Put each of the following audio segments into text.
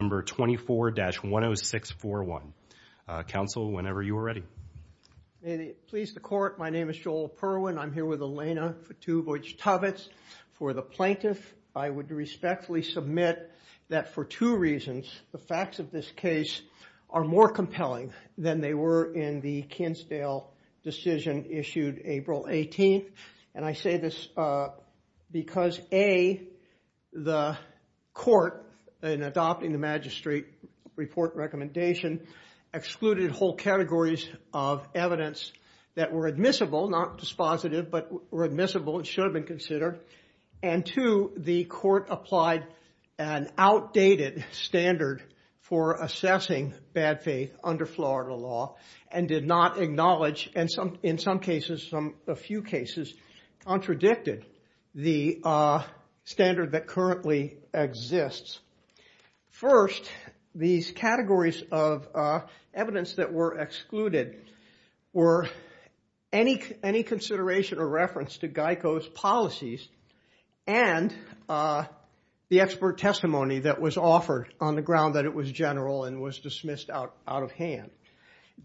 number 24-10641. Council, whenever you are ready. May it please the court, my name is Joel Perwin. I'm here with Elena Futubowicz-Tovitz. For the plaintiff, I would respectfully submit that for two reasons, the facts of this case are more compelling than they were in the Kinsdale decision issued April 18th. And I say this because A, the court, in adopting the magistrate report recommendation, excluded whole categories of evidence that were admissible, not dispositive, but were admissible and should have been considered. And two, the court applied an outdated standard for assessing bad faith under Florida law and did not acknowledge, and in some cases, a few cases, contradicted the standard that currently exists. First, these categories of evidence that were excluded were any consideration or reference to GEICO's policies and the expert testimony that was offered on the ground that it was general and was dismissed out of hand.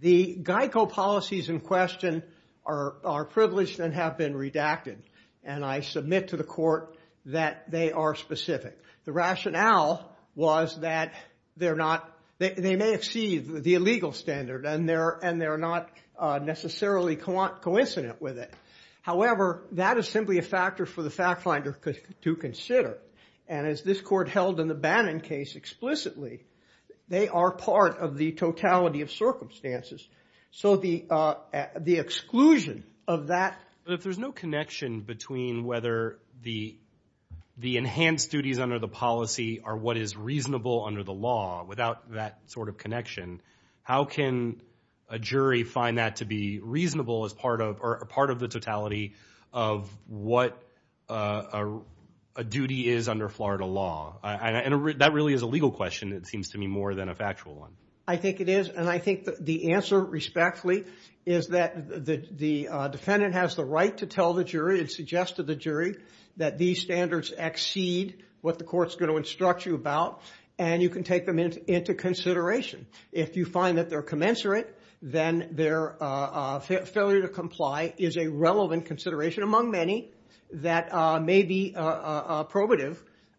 The GEICO policies in question are privileged and have been redacted. And I submit to the court that they are specific. The rationale was that they may exceed the illegal standard and they're not necessarily coincident with it. However, that is simply a factor for the fact finder to consider. And as this court held in the Bannon case explicitly, they are part of the totality of circumstances. So the exclusion of that. But if there's no connection between whether the enhanced duties under the policy are what is reasonable under the law, without that sort of connection, how can a jury find that to be reasonable as part of the totality of what a duty is under Florida law? And that really is a legal question, it seems to me, more than a factual one. I think it is. And I think the answer, respectfully, is that the defendant has the right to tell the jury and suggest to the jury that these standards exceed what the court's going to instruct you about. And you can take them into consideration. If you find that they're commensurate, then their failure to comply is a relevant consideration among many that may be probative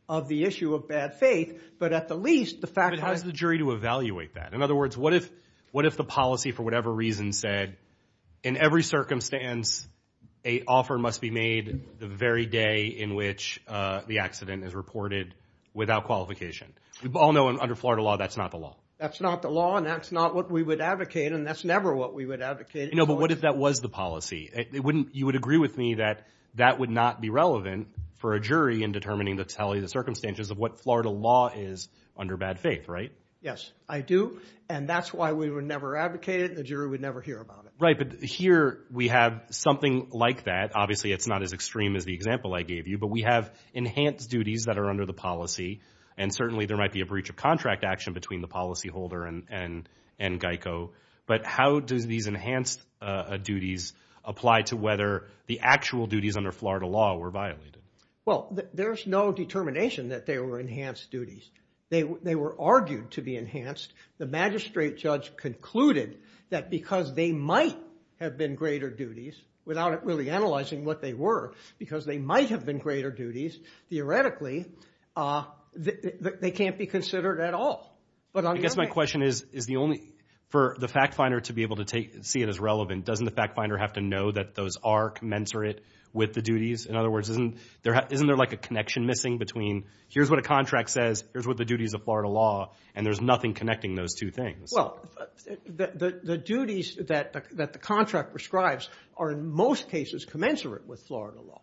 of the issue of bad faith. But at the least, the fact that- But how's the jury to evaluate that? In other words, what if the policy, for whatever reason, said, in every circumstance, a offer must be made the very day in which the accident is reported without qualification? We all know under Florida law, that's not the law. That's not the law, and that's not what we would advocate, and that's never what we would advocate. No, but what if that was the policy? You would agree with me that that would not be relevant for a jury in determining the circumstances of what Florida law is under bad faith, right? Yes, I do, and that's why we would never advocate it, and the jury would never hear about it. Right, but here we have something like that. Obviously, it's not as extreme as the example I gave you, but we have enhanced duties that are under the policy, and certainly there might be a breach of contract action between the policyholder and Geico. But how do these enhanced duties apply to whether the actual duties under Florida law were violated? Well, there's no determination that they were enhanced duties. They were argued to be enhanced. The magistrate judge concluded that because they might have been greater duties, without really analyzing what they were, because they might have been greater duties, theoretically, they can't be considered at all. I guess my question is, is the only, for the fact finder to be able to see it as relevant, doesn't the fact finder have to know that those are commensurate with the duties? In other words, isn't there like a connection missing between here's what a contract says, here's what the duties of Florida law, and there's nothing connecting those two things? Well, the duties that the contract prescribes are in most cases commensurate with Florida law,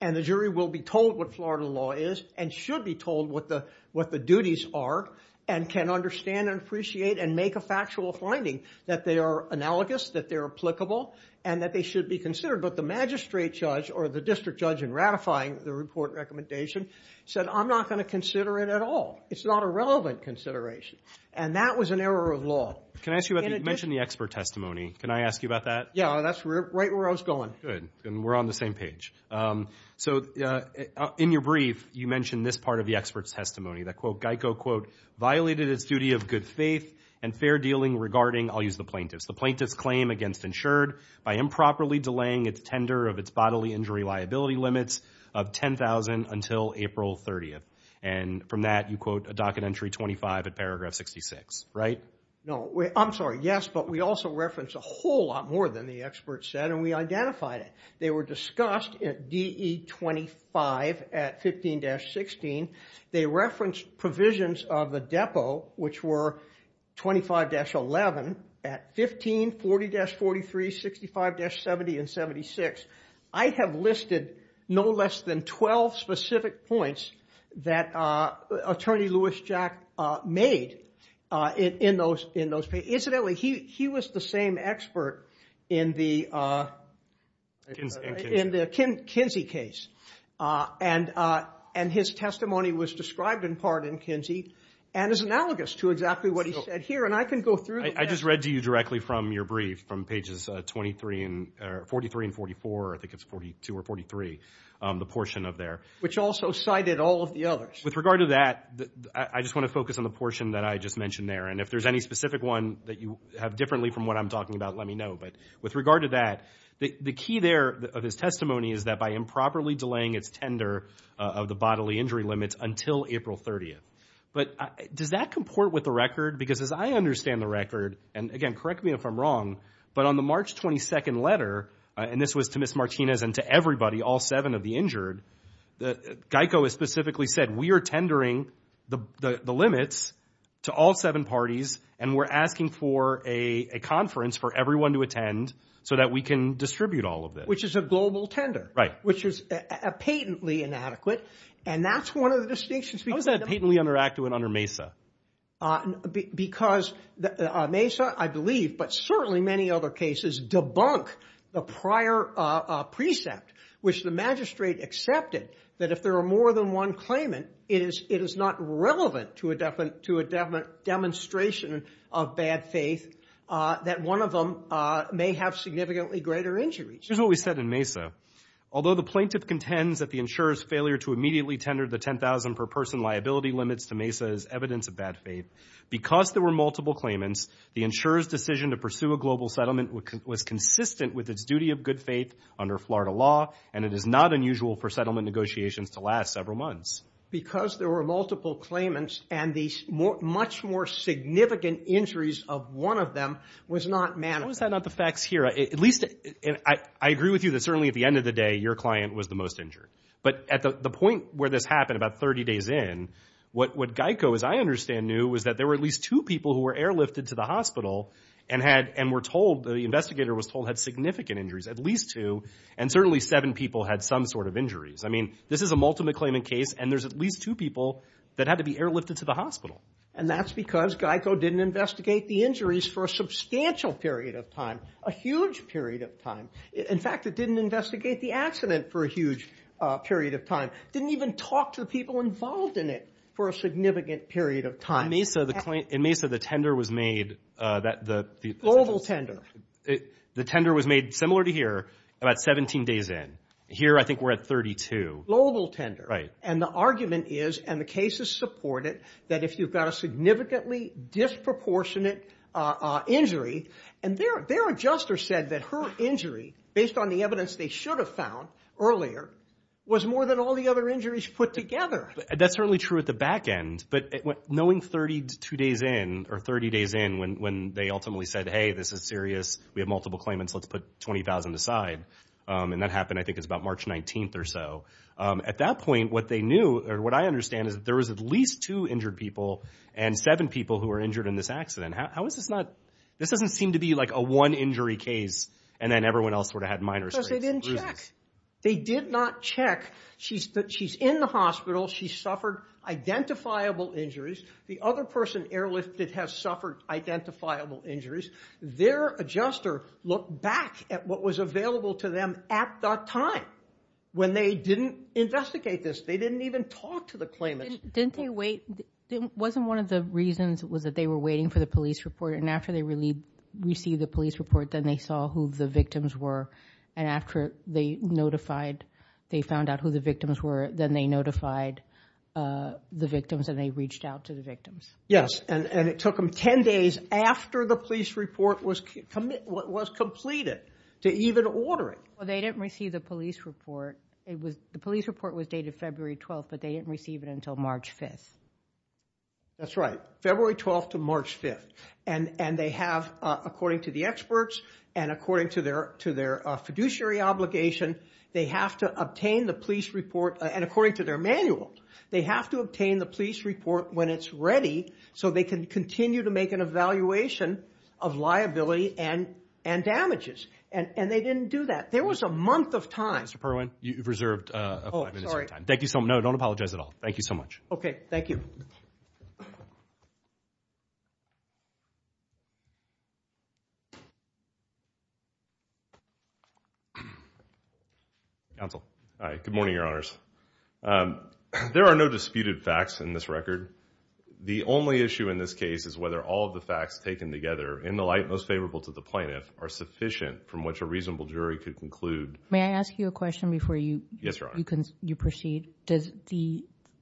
and the jury will be told what Florida law is, and should be told what the duties are, and can understand and appreciate and make a factual finding that they are analogous, that they're applicable, and that they should be considered. But the magistrate judge or the district judge in ratifying the report recommendation said, I'm not going to consider it at all. It's not a relevant consideration. And that was an error of law. Can I ask you about, you mentioned the expert testimony. Can I ask you about that? Yeah, that's right where I was going. Good. And we're on the same page. So in your brief, you mentioned this part of the expert's testimony, that quote, Geico quote, violated its duty of good faith and fair dealing regarding, I'll use the plaintiff's. The plaintiff's claim against insured by improperly delaying its tender of its bodily injury liability limits of $10,000 until April 30. And from that, you quote a docket entry 25 at paragraph 66. Right? No. I'm sorry. Yes, but we also referenced a whole lot more than the expert said, and we identified it. They were discussed at DE 25 at 15-16. They referenced provisions of the depot, which were 25-11 at 15, 40-43, 65-70, and 76. I have listed no less than 12 specific points that attorney Louis Jack made in those pages. Incidentally, he was the same expert in the Kinsey case. And his testimony was described in part in Kinsey and is analogous to exactly what he said here. And I can go through. I just read to you directly from your brief, from pages 43 and 44. I think it's 42 or 43, the portion of there. Which also cited all of the others. With regard to that, I just want to focus on the portion that I just mentioned there. And if there's any specific one that you have differently from what I'm talking about, let me know. But with regard to that, the key there of his testimony is that by improperly delaying its tender of the bodily injury limits until April 30. But does that comport with the record? Because as I understand the record, and again, correct me if I'm wrong, but on the March 22 letter, and this was to Ms. Martinez and to everybody, all seven of the injured, GEICO has specifically said, we are tendering the limits to all seven parties. And we're asking for a conference for everyone to attend so that we can distribute all of this. Which is a global tender. Right. Which is patently inadequate. And that's one of the distinctions. How is that patently inadequate under MESA? Because MESA, I believe, but certainly many other cases, debunk the prior precept, which the magistrate accepted that if there are more than one claimant, it is not relevant to a demonstration of bad faith that one of them may have significantly greater injuries. Here's what we said in MESA. Although the plaintiff contends that the insurer's who immediately tendered the $10,000 per person liability limits to MESA is evidence of bad faith, because there were multiple claimants, the insurer's decision to pursue a global settlement was consistent with its duty of good faith under Florida law. And it is not unusual for settlement negotiations to last several months. Because there were multiple claimants and the much more significant injuries of one of them was not managed. How is that not the facts here? At least, I agree with you that certainly at the end of the day, your client was the most injured. But at the point where this happened about 30 days in, what Geico, as I understand, knew was that there were at least two people who were airlifted to the hospital and were told, the investigator was told, had significant injuries, at least two. And certainly, seven people had some sort of injuries. I mean, this is a multiple claimant case. And there's at least two people that had to be airlifted to the hospital. And that's because Geico didn't investigate the injuries for a substantial period of time, a huge period of time. In fact, it didn't investigate the accident for a huge period of time. Didn't even talk to the people involved in it for a significant period of time. In Mesa, the tender was made. Global tender. The tender was made, similar to here, about 17 days in. Here, I think we're at 32. Global tender. Right. And the argument is, and the cases support it, that if you've got a significantly disproportionate injury, and their adjuster said that her injury, based on the evidence they should have found earlier, was more than all the other injuries put together. That's certainly true at the back end. But knowing 32 days in, or 30 days in, when they ultimately said, hey, this is serious. We have multiple claimants. Let's put 20,000 aside. And that happened, I think, it's about March 19 or so. At that point, what they knew, or what I understand, is that there was at least two injured people, and seven people who were injured in this accident. How is this not, this doesn't seem to be like a one injury case, and then everyone else sort of had minor injuries. Because they didn't check. They did not check. She's in the hospital. She suffered identifiable injuries. The other person airlifted has suffered identifiable injuries. Their adjuster looked back at what was available to them at that time, when they didn't investigate this. They didn't even talk to the claimants. Didn't they wait? Wasn't one of the reasons was that they were waiting for the police report, and after they received the police report, then they saw who the victims were. And after they notified, they found out who the victims were, then they notified the victims, and they reached out to the victims. Yes, and it took them 10 days after the police report was completed to even order it. Well, they didn't receive the police report. The police report was dated February 12th, but they didn't receive it until March 5th. That's right, February 12th to March 5th. And they have, according to the experts and according to their fiduciary obligation, they have to obtain the police report. And according to their manual, they have to obtain the police report when it's ready, so they can continue to make an evaluation of liability and damages. And they didn't do that. There was a month of time. Mr. Perlman, you've reserved five minutes of your time. Thank you so much. No, don't apologize at all. Thank you so much. OK, thank you. Counsel. Hi, good morning, Your Honors. There are no disputed facts in this record. The only issue in this case is whether all of the facts taken together, in the light most favorable to the plaintiff, are sufficient from which a reasonable jury could conclude. May I ask you a question before you proceed? Does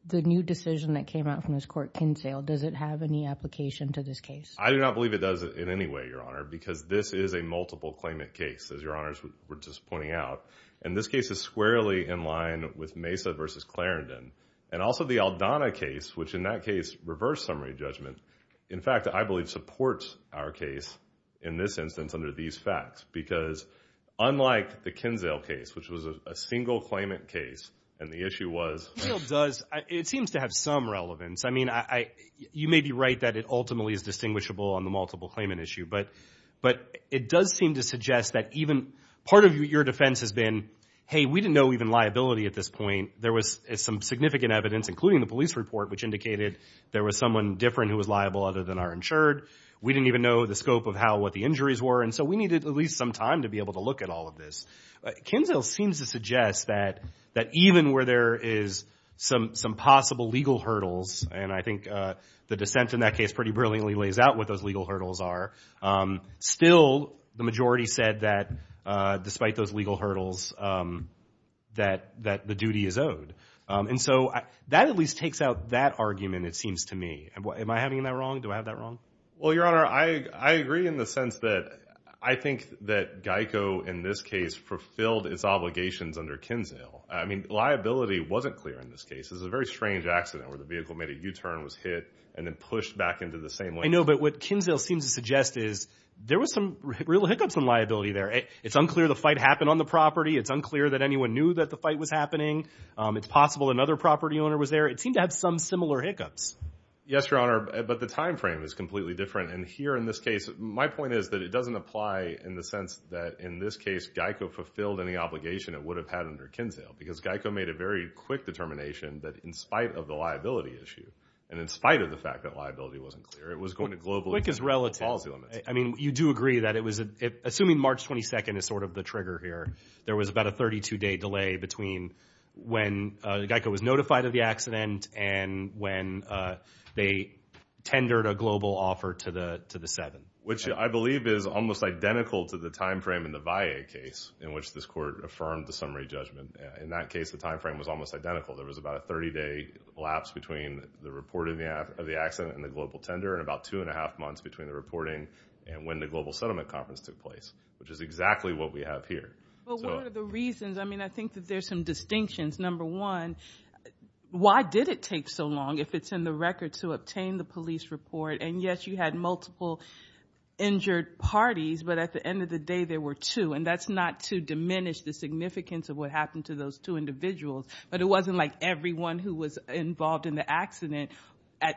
the new decision that came out from this court, Kinsale, does it have any application to this case? I do not believe it does it in any way, Your Honor, because this is a multiple claimant case, as Your Honors were just pointing out. And this case is squarely in line with Mesa versus Clarendon. And also the Aldana case, which in that case, reversed summary judgment. In fact, I believe supports our case, in this instance, under these facts. Because unlike the Kinsale case, which was a single claimant case, and the issue was. Kinsale does, it seems to have some relevance. I mean, you may be right that it ultimately is distinguishable on the multiple claimant issue. But it does seem to suggest that even, part of your defense has been, hey, we didn't know even liability at this point. There was some significant evidence, including the police report, which indicated there was someone different who was liable other than our insured. We didn't even know the scope of what the injuries were. And so we needed at least some time to be able to look at all of this. Kinsale seems to suggest that even where there is some possible legal hurdles, and I think the dissent in that case pretty brilliantly lays out what those legal hurdles are. Still, the majority said that, despite those legal hurdles, that the duty is owed. And so that at least takes out that argument, it seems to me. Am I having that wrong? Do I have that wrong? Well, your honor, I agree in the sense that I think that GEICO, in this case, fulfilled its obligations under Kinsale. I mean, liability wasn't clear in this case. It was a very strange accident where the vehicle made a U-turn, was hit, and then pushed back into the same lane. I know, but what Kinsale seems to suggest is there was some real hiccups in liability there. It's unclear the fight happened on the property. It's unclear that anyone knew that the fight was happening. It's possible another property owner was there. It seemed to have some similar hiccups. Yes, your honor, but the timeframe is completely different. And here in this case, my point is that it doesn't apply in the sense that, in this case, GEICO fulfilled any obligation it would have had under Kinsale, because GEICO made a very quick determination that, in spite of the liability issue, and in spite of the fact that liability wasn't clear, it was going to globalize the policy limits. I mean, you do agree that it was, assuming March 22nd is sort of the trigger here, there was about a 32-day delay between when GEICO was notified of the accident and when they tendered a global offer to the seven. Which I believe is almost identical to the timeframe in the VIA case, in which this court affirmed the summary judgment. In that case, the timeframe was almost identical. There was about a 30-day lapse between the reporting of the accident and the global tender, and about two and a half months between the reporting and when the global settlement conference took place, which is exactly what we have here. So. But what are the reasons? I mean, I think that there's some distinctions. Number one, why did it take so long, if it's in the record, to obtain the police report? And yes, you had multiple injured parties, but at the end of the day, there were two. And that's not to diminish the significance of what happened to those two individuals, but it wasn't like everyone who was involved in the accident,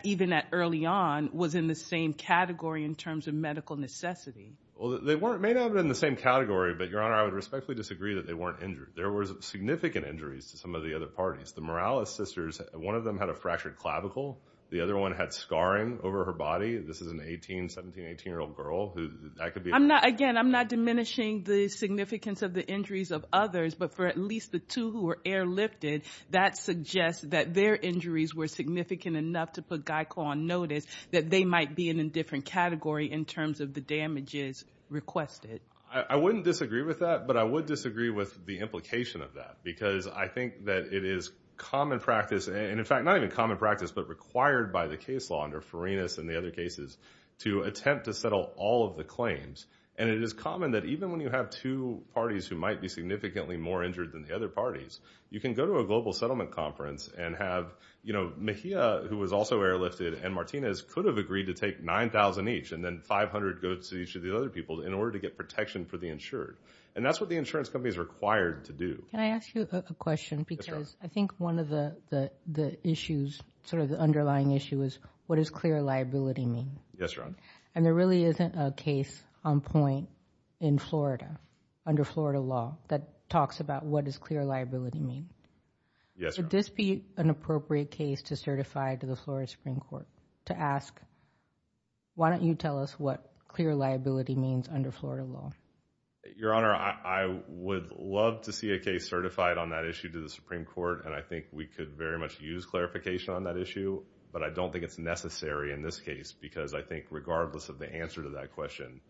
even at early on, was in the same category in terms of medical necessity. Well, they weren't, may not have been in the same category, but Your Honor, I would respectfully disagree that they weren't injured. There was significant injuries to some of the other parties. The Morales sisters, one of them had a fractured clavicle. The other one had scarring over her body. This is an 18, 17, 18-year-old girl who, that could be. I'm not, again, I'm not diminishing the significance of the injuries of others, but for at least the two who were airlifted, that suggests that their injuries were significant enough to put GEICO on notice that they might be in a different category in terms of the damages requested. I wouldn't disagree with that, but I would disagree with the implication of that, because I think that it is common practice, and in fact, not even common practice, but required by the case law under Ferenas and the other cases to attempt to settle all of the claims. And it is common that even when you have two parties who might be significantly more injured than the other parties, you can go to a global settlement conference and have, you know, Mejia, who was also airlifted, and Martinez could have agreed to take 9,000 each, and then 500 go to each of the other people in order to get protection for the insured. And that's what the insurance companies are required to do. Can I ask you a question? Because I think one of the issues, sort of the underlying issue, is what does clear liability mean? Yes, Your Honor. And there really isn't a case on point in Florida, under Florida law, that talks about what does clear liability mean. Yes, Your Honor. Would this be an appropriate case to certify to the Florida Supreme Court, to ask, why don't you tell us what clear liability means under Florida law? Your Honor, I would love to see a case certified on that issue to the Supreme Court, and I think we could very much use clarification on that issue, but I don't think it's necessary in this case, because I think regardless of the answer to that question,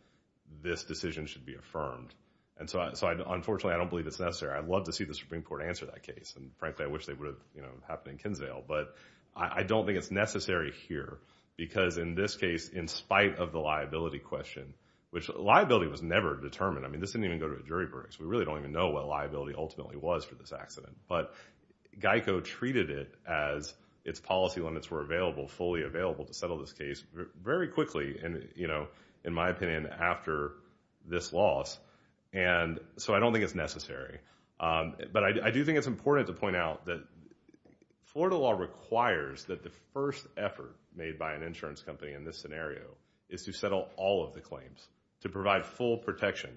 this decision should be affirmed. And so, unfortunately, I don't believe it's necessary. I'd love to see the Supreme Court answer that case, and frankly, I wish they would have happened in Kinsdale. But I don't think it's necessary here, because in this case, in spite of the liability question, which, liability was never determined. I mean, this didn't even go to a jury brace. We really don't even know what liability ultimately was for this accident. But GEICO treated it as its policy limits were available, fully available to settle this case very quickly, and in my opinion, after this loss. And so I don't think it's necessary. But I do think it's important to point out that Florida law requires that the first effort made by an insurance company in this scenario is to settle all of the claims, to provide full protection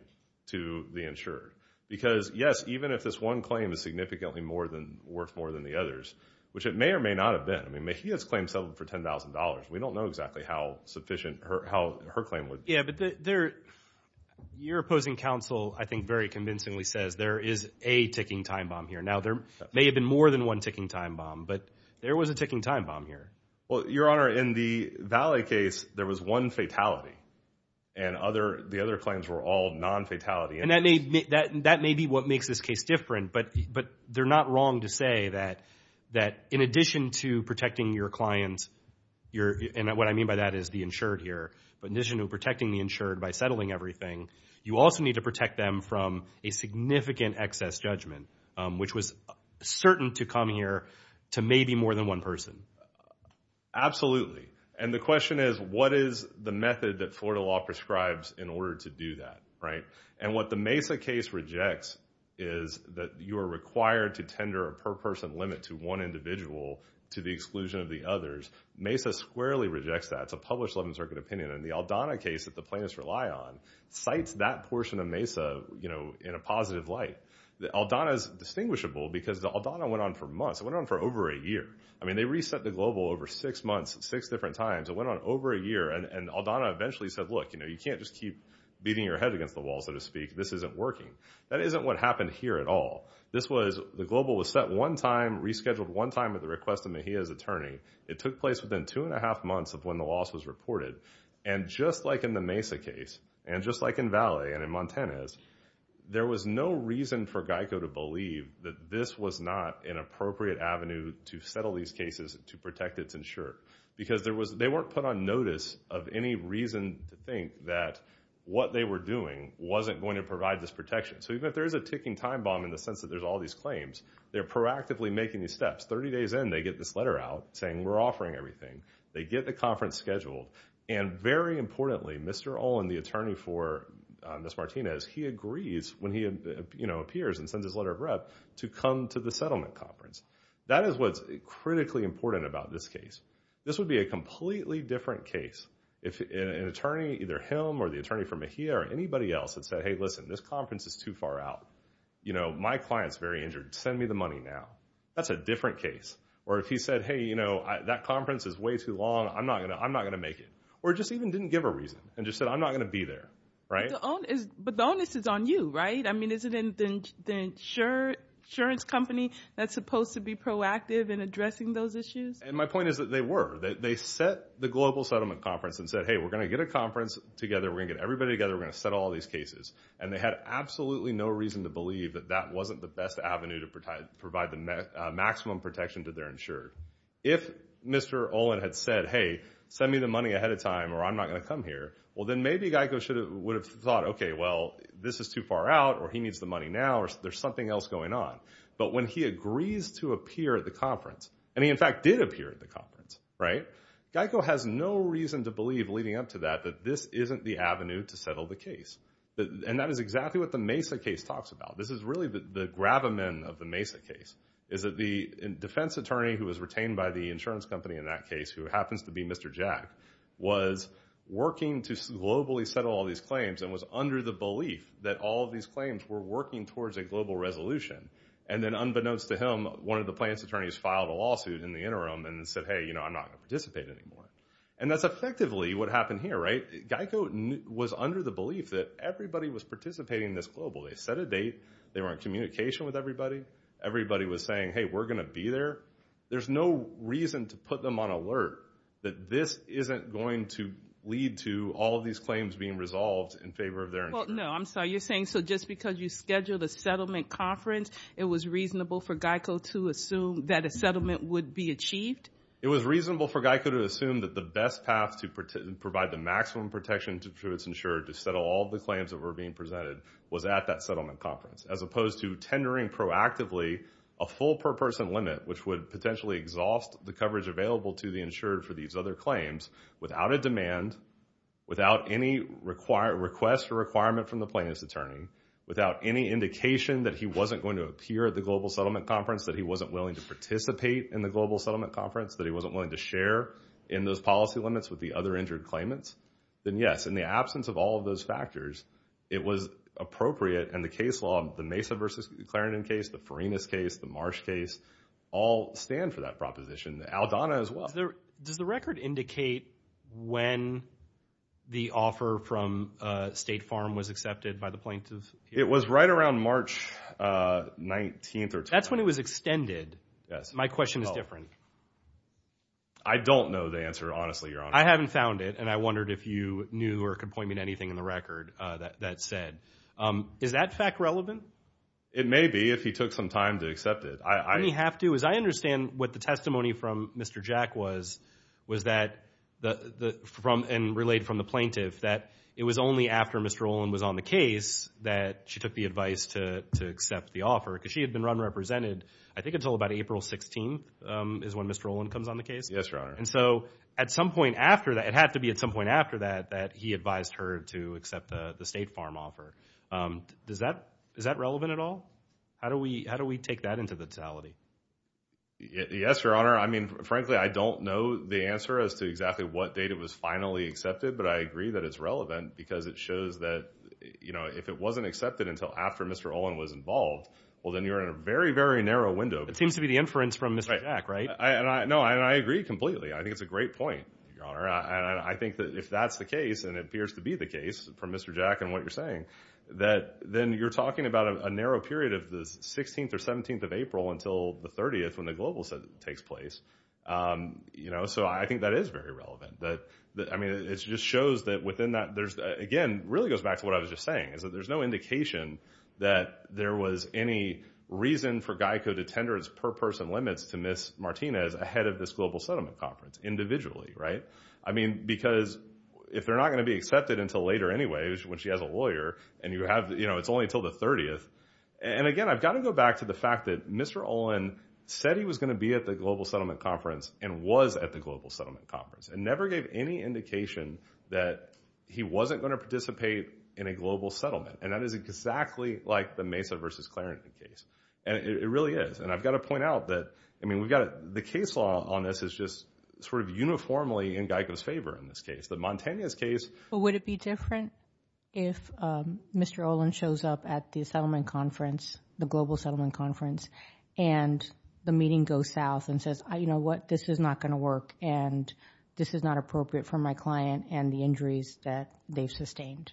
to the insurer. Because yes, even if this one claim is significantly more than, worth more than the others, which it may or may not have been. I mean, Mejia's claim settled for $10,000. We don't know exactly how sufficient her claim was. Yeah, but your opposing counsel, I think, very convincingly says there is a ticking time bomb here. Now, there may have been more than one ticking time bomb, but there was a ticking time bomb here. Well, Your Honor, in the Valley case, there was one fatality, and the other claims were all non-fatality. And that may be what makes this case different, but they're not wrong to say that, in addition to protecting your client, and what I mean by that is the insured here, but in addition to protecting the insured by settling everything, you also need to protect them from a significant excess judgment, which was certain to come here to maybe more than one person. Absolutely, and the question is, what is the method that Florida law prescribes in order to do that, right? And what the Mesa case rejects is that you are required to tender a per-person limit to one individual to the exclusion of the others. Mesa squarely rejects that. It's a published 11th Circuit opinion, and the Aldana case that the plaintiffs rely on cites that portion of Mesa in a positive light. The Aldana's distinguishable because the Aldana went on for months. It went on for over a year. I mean, they reset the global over six months at six different times. It went on over a year, and Aldana eventually said, look, you can't just keep beating your head against the wall, so to speak. This isn't working. That isn't what happened here at all. This was, the global was set one time, rescheduled one time at the request of Mejia's attorney. It took place within two and a half months of when the loss was reported, and just like in the Mesa case, and just like in Valley and in Montana's, there was no reason for GEICO to believe that this was not an appropriate avenue to settle these cases to protect its insurer because they weren't put on notice of any reason to think that what they were doing wasn't going to provide this protection. So even if there is a ticking time bomb in the sense that there's all these claims, they're proactively making these steps. 30 days in, they get this letter out saying we're offering everything. They get the conference scheduled, and very importantly, Mr. Olin, the attorney for Ms. Martinez, he agrees when he appears and sends his letter of rep to come to the settlement conference. That is what's critically important about this case. This would be a completely different case if an attorney, either him or the attorney for Mejia or anybody else had said, hey, listen, this conference is too far out. My client's very injured. Send me the money now. That's a different case. Or if he said, hey, that conference is way too long. I'm not gonna make it. Or just even didn't give a reason and just said, I'm not gonna be there, right? But the onus is on you, right? I mean, is it in the insurance company that's supposed to be proactive in addressing those issues? And my point is that they were. They set the global settlement conference and said, hey, we're gonna get a conference together. We're gonna get everybody together. We're gonna settle all these cases. And they had absolutely no reason to believe that that wasn't the best avenue to provide the maximum protection to their insured. If Mr. Olin had said, hey, send me the money ahead of time or I'm not gonna come here, well, then maybe Geico would have thought, okay, well, this is too far out or he needs the money now or there's something else going on. But when he agrees to appear at the conference, and he in fact did appear at the conference, right? Geico has no reason to believe leading up to that that this isn't the avenue to settle the case. And that is exactly what the Mesa case talks about. This is really the gravamen of the Mesa case is that the defense attorney who was retained by the insurance company in that case, who happens to be Mr. Jack, was working to globally settle all these claims and was under the belief that all of these claims were working towards a global resolution. And then unbeknownst to him, one of the plaintiff's attorneys filed a lawsuit in the interim and said, hey, I'm not gonna participate anymore. And that's effectively what happened here, right? Geico was under the belief that everybody was participating in this globally. They set a date, they were in communication with everybody. Everybody was saying, hey, we're gonna be there. There's no reason to put them on alert that this isn't going to lead to all of these claims being resolved in favor of their insurance. No, I'm sorry, you're saying, so just because you scheduled a settlement conference, it was reasonable for Geico to assume that a settlement would be achieved? It was reasonable for Geico to assume that the best path to provide the maximum protection to its insurer to settle all the claims that were being presented was at that settlement conference, as opposed to tendering proactively a full per-person limit, which would potentially exhaust the coverage available to the insurer for these other claims, without a demand, without any request or requirement from the plaintiff's attorney, without any indication that he wasn't going to appear at the global settlement conference, that he wasn't willing to participate in the global settlement conference, that he wasn't willing to share in those policy limits with the other injured claimants, then yes, in the absence of all of those factors, it was appropriate, and the case law, the Mesa versus Clarendon case, the Farinas case, the Marsh case, all stand for that proposition, Aldana as well. Does the record indicate when the offer from State Farm was accepted by the plaintiff? It was right around March 19th or 20th. That's when it was extended? Yes. My question is different. I don't know the answer, honestly, Your Honor. I haven't found it, and I wondered if you knew or could point me to anything in the record that said. Is that fact relevant? It may be, if he took some time to accept it. I mean, he have to, as I understand what the testimony from Mr. Jack was, was that, and relayed from the plaintiff, that it was only after Mr. Olin was on the case that she took the advice to accept the offer, because she had been run-represented, I think until about April 16th is when Mr. Olin comes on the case. Yes, Your Honor. And so, at some point after that, it had to be at some point after that, that he advised her to accept the State Farm offer. Does that, is that relevant at all? How do we take that into the totality? Yes, Your Honor. I mean, frankly, I don't know the answer as to exactly what date it was finally accepted, but I agree that it's relevant, because it shows that, you know, if it wasn't accepted until after Mr. Olin was involved, well, then you're in a very, very narrow window. It seems to be the inference from Mr. Jack, right? No, and I agree completely. I think it's a great point, Your Honor. And I think that if that's the case, and it appears to be the case, from Mr. Jack and what you're saying, that then you're talking about a narrow period of the 16th or 17th of April until the 30th, when the global takes place, you know? So I think that is very relevant, that, I mean, it just shows that within that, there's, again, really goes back to what I was just saying, is that there's no indication that there was any reason for GEICO to tender its per-person limits to Ms. Martinez ahead of this Global Settlement Conference individually, right? I mean, because if they're not gonna be accepted until later anyways, when she has a lawyer, and you have, you know, it's only until the 30th, and again, I've gotta go back to the fact that Mr. Olin said he was gonna be at the Global Settlement Conference and was at the Global Settlement Conference, and never gave any indication that he wasn't gonna participate in a global settlement, and that is exactly like the Mesa versus Clarence case, and it really is, and I've gotta point out that, I mean, we've got, the case law on this is just sort of uniformly in GEICO's favor in this case. The Montanez case. But would it be different if Mr. Olin shows up at the Settlement Conference, the Global Settlement Conference, and the meeting goes south and says, you know what, this is not gonna work, and this is not appropriate for my client and the injuries that they've sustained?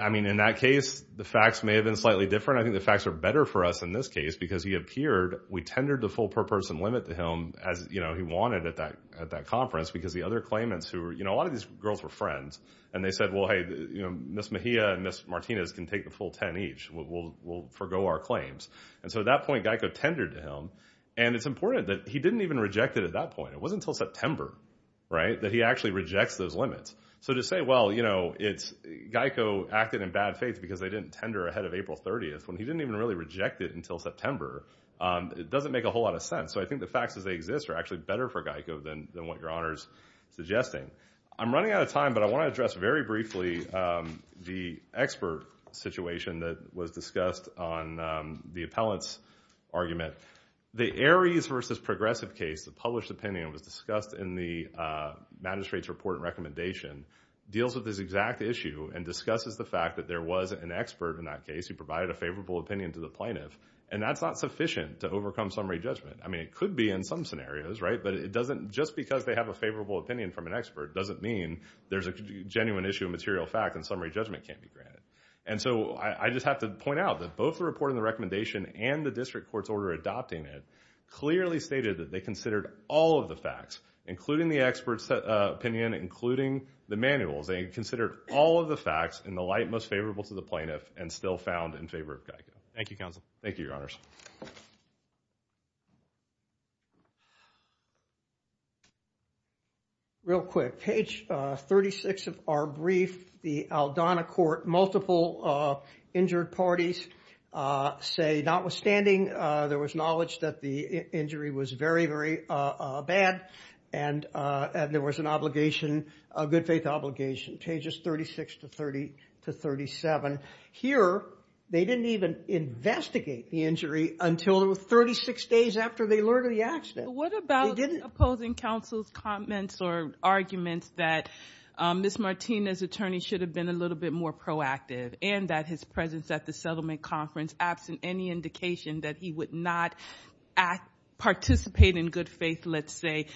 I mean, in that case, the facts may have been slightly different. I think the facts are better for us in this case, because he appeared, we tendered the full per-person limit to him as he wanted at that conference, because the other claimants who were, you know, a lot of these girls were friends, and they said, well, hey, you know, Ms. Mejia and Ms. Martinez can take the full 10 each. We'll forgo our claims. And so at that point, GEICO tendered to him, and it's important that he didn't even reject it at that point. It wasn't until September, right, that he actually rejects those limits. So to say, well, you know, GEICO acted in bad faith because they didn't tender ahead of April 30th, when he didn't even really reject it until September, it doesn't make a whole lot of sense. So I think the facts as they exist are actually better for GEICO than what your Honor's suggesting. I'm running out of time, but I want to address very briefly the expert situation that was discussed on the appellant's argument. The Aries versus Progressive case, the published opinion was discussed in the magistrate's report and recommendation, deals with this exact issue and discusses the fact that there was an expert in that case who provided a favorable opinion to the plaintiff. And that's not sufficient to overcome summary judgment. I mean, it could be in some scenarios, right, but it doesn't, just because they have a favorable opinion from an expert doesn't mean there's a genuine issue of material fact and summary judgment can't be granted. And so I just have to point out that both the report and the recommendation and the district court's order adopting it clearly stated that they considered all of the facts including the expert's opinion, including the manuals. They considered all of the facts in the light most favorable to the plaintiff and still found in favor of GEICO. Thank you, Counsel. Thank you, Your Honors. Real quick, page 36 of our brief, the Aldana Court, multiple injured parties say notwithstanding, there was knowledge that the injury was very, very bad and there was an obligation, a good faith obligation. Pages 36 to 37. Here, they didn't even investigate the injury until it was 36 days after they learned of the accident. What about opposing counsel's comments or arguments that Ms. Martinez's attorney should have been a little bit more proactive and that his presence at the settlement conference was absent any indication that he would not participate in good faith, let's say,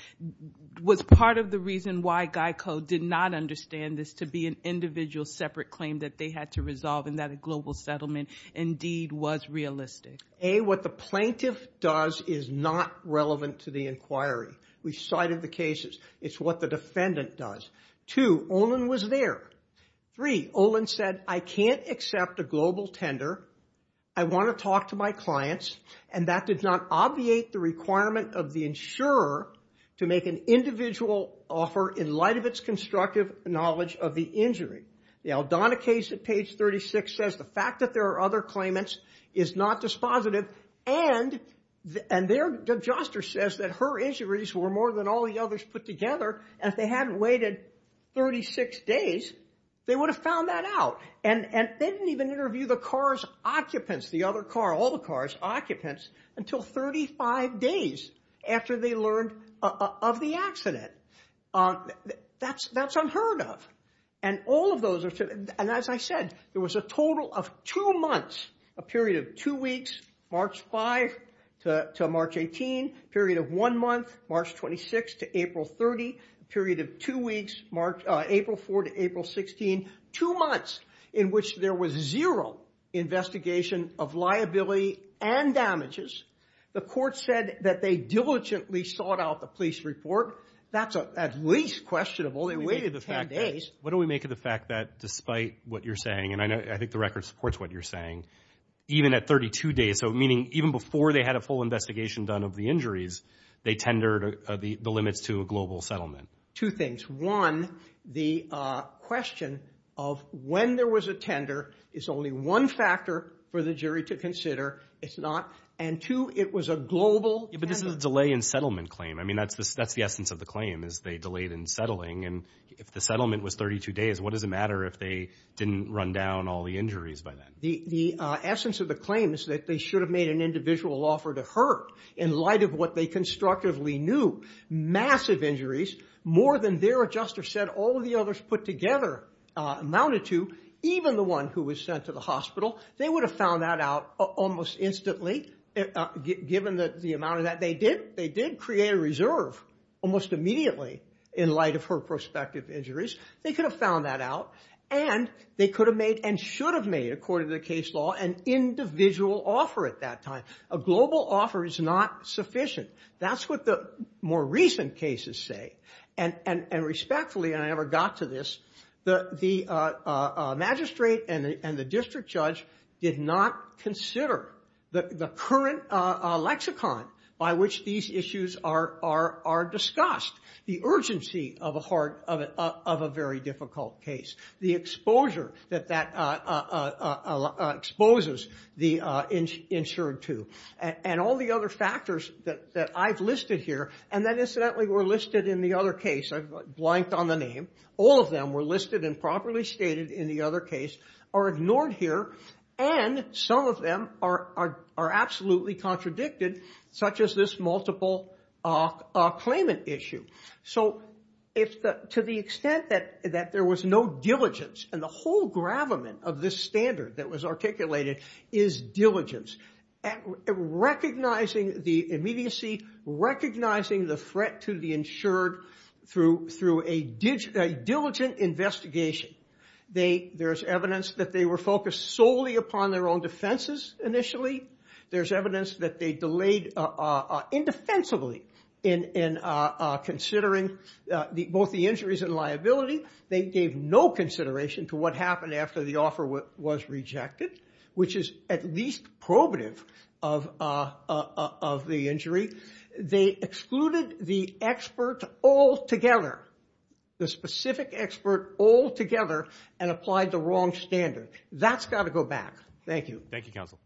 was part of the reason why GEICO did not understand this to be an individual separate claim that they had to resolve and that a global settlement indeed was realistic? A, what the plaintiff does is not relevant to the inquiry. We cited the cases. It's what the defendant does. Two, Olin was there. Three, Olin said, I can't accept a global tender. I want to talk to my clients and that did not obviate the requirement of the insurer to make an individual offer in light of its constructive knowledge of the injury. The Aldana case at page 36 says the fact that there are other claimants is not dispositive and their adjuster says that her injuries were more than all the others put together and if they hadn't waited 36 days, they would have found that out and they didn't even interview the car's occupants, the other car, all the car's occupants, until 35 days after they learned of the accident. That's unheard of and all of those are, and as I said, there was a total of two months, a period of two weeks, March 5 to March 18, period of one month, March 26 to April 30, period of two weeks, April 4 to April 16, two months in which there was zero investigation of liability and damages. The court said that they diligently sought out the police report. That's at least questionable, they waited 10 days. What do we make of the fact that despite what you're saying and I think the record supports what you're saying, even at 32 days, so meaning even before they had a full investigation done of the injuries, they tendered the limits to a global settlement. Two things, one, the question of when there was a tender is only one factor for the jury to consider, it's not, and two, it was a global tender. Yeah, but this is a delay in settlement claim. I mean, that's the essence of the claim is they delayed in settling and if the settlement was 32 days, what does it matter if they didn't run down all the injuries by then? The essence of the claim is that they should have made an individual offer to her in light of what they constructively knew. Massive injuries, more than Vera Juster said all of the others put together amounted to, even the one who was sent to the hospital, they would have found that out almost instantly given the amount of that they did. They did create a reserve almost immediately in light of her prospective injuries. They could have found that out and they could have made and should have made, according to the case law, an individual offer at that time. A global offer is not sufficient. That's what the more recent cases say. And respectfully, and I never got to this, the magistrate and the district judge did not consider the current lexicon by which these issues are discussed. The urgency of a very difficult case. The exposure that that exposes the insured to. And all the other factors that I've listed here, and that incidentally were listed in the other case, I've blanked on the name. All of them were listed and properly stated in the other case are ignored here. And some of them are absolutely contradicted such as this multiple claimant issue. So to the extent that there was no diligence, and the whole gravamen of this standard that was articulated is diligence. Recognizing the immediacy, recognizing the threat to the insured through a diligent investigation. There's evidence that they were focused solely upon their own defenses initially. There's evidence that they delayed indefensibly in considering both the injuries and liability. They gave no consideration to what happened after the offer was rejected, which is at least probative of the injury. They excluded the expert altogether. The specific expert altogether and applied the wrong standard. That's got to go back. Thank you. Thank you, counsel.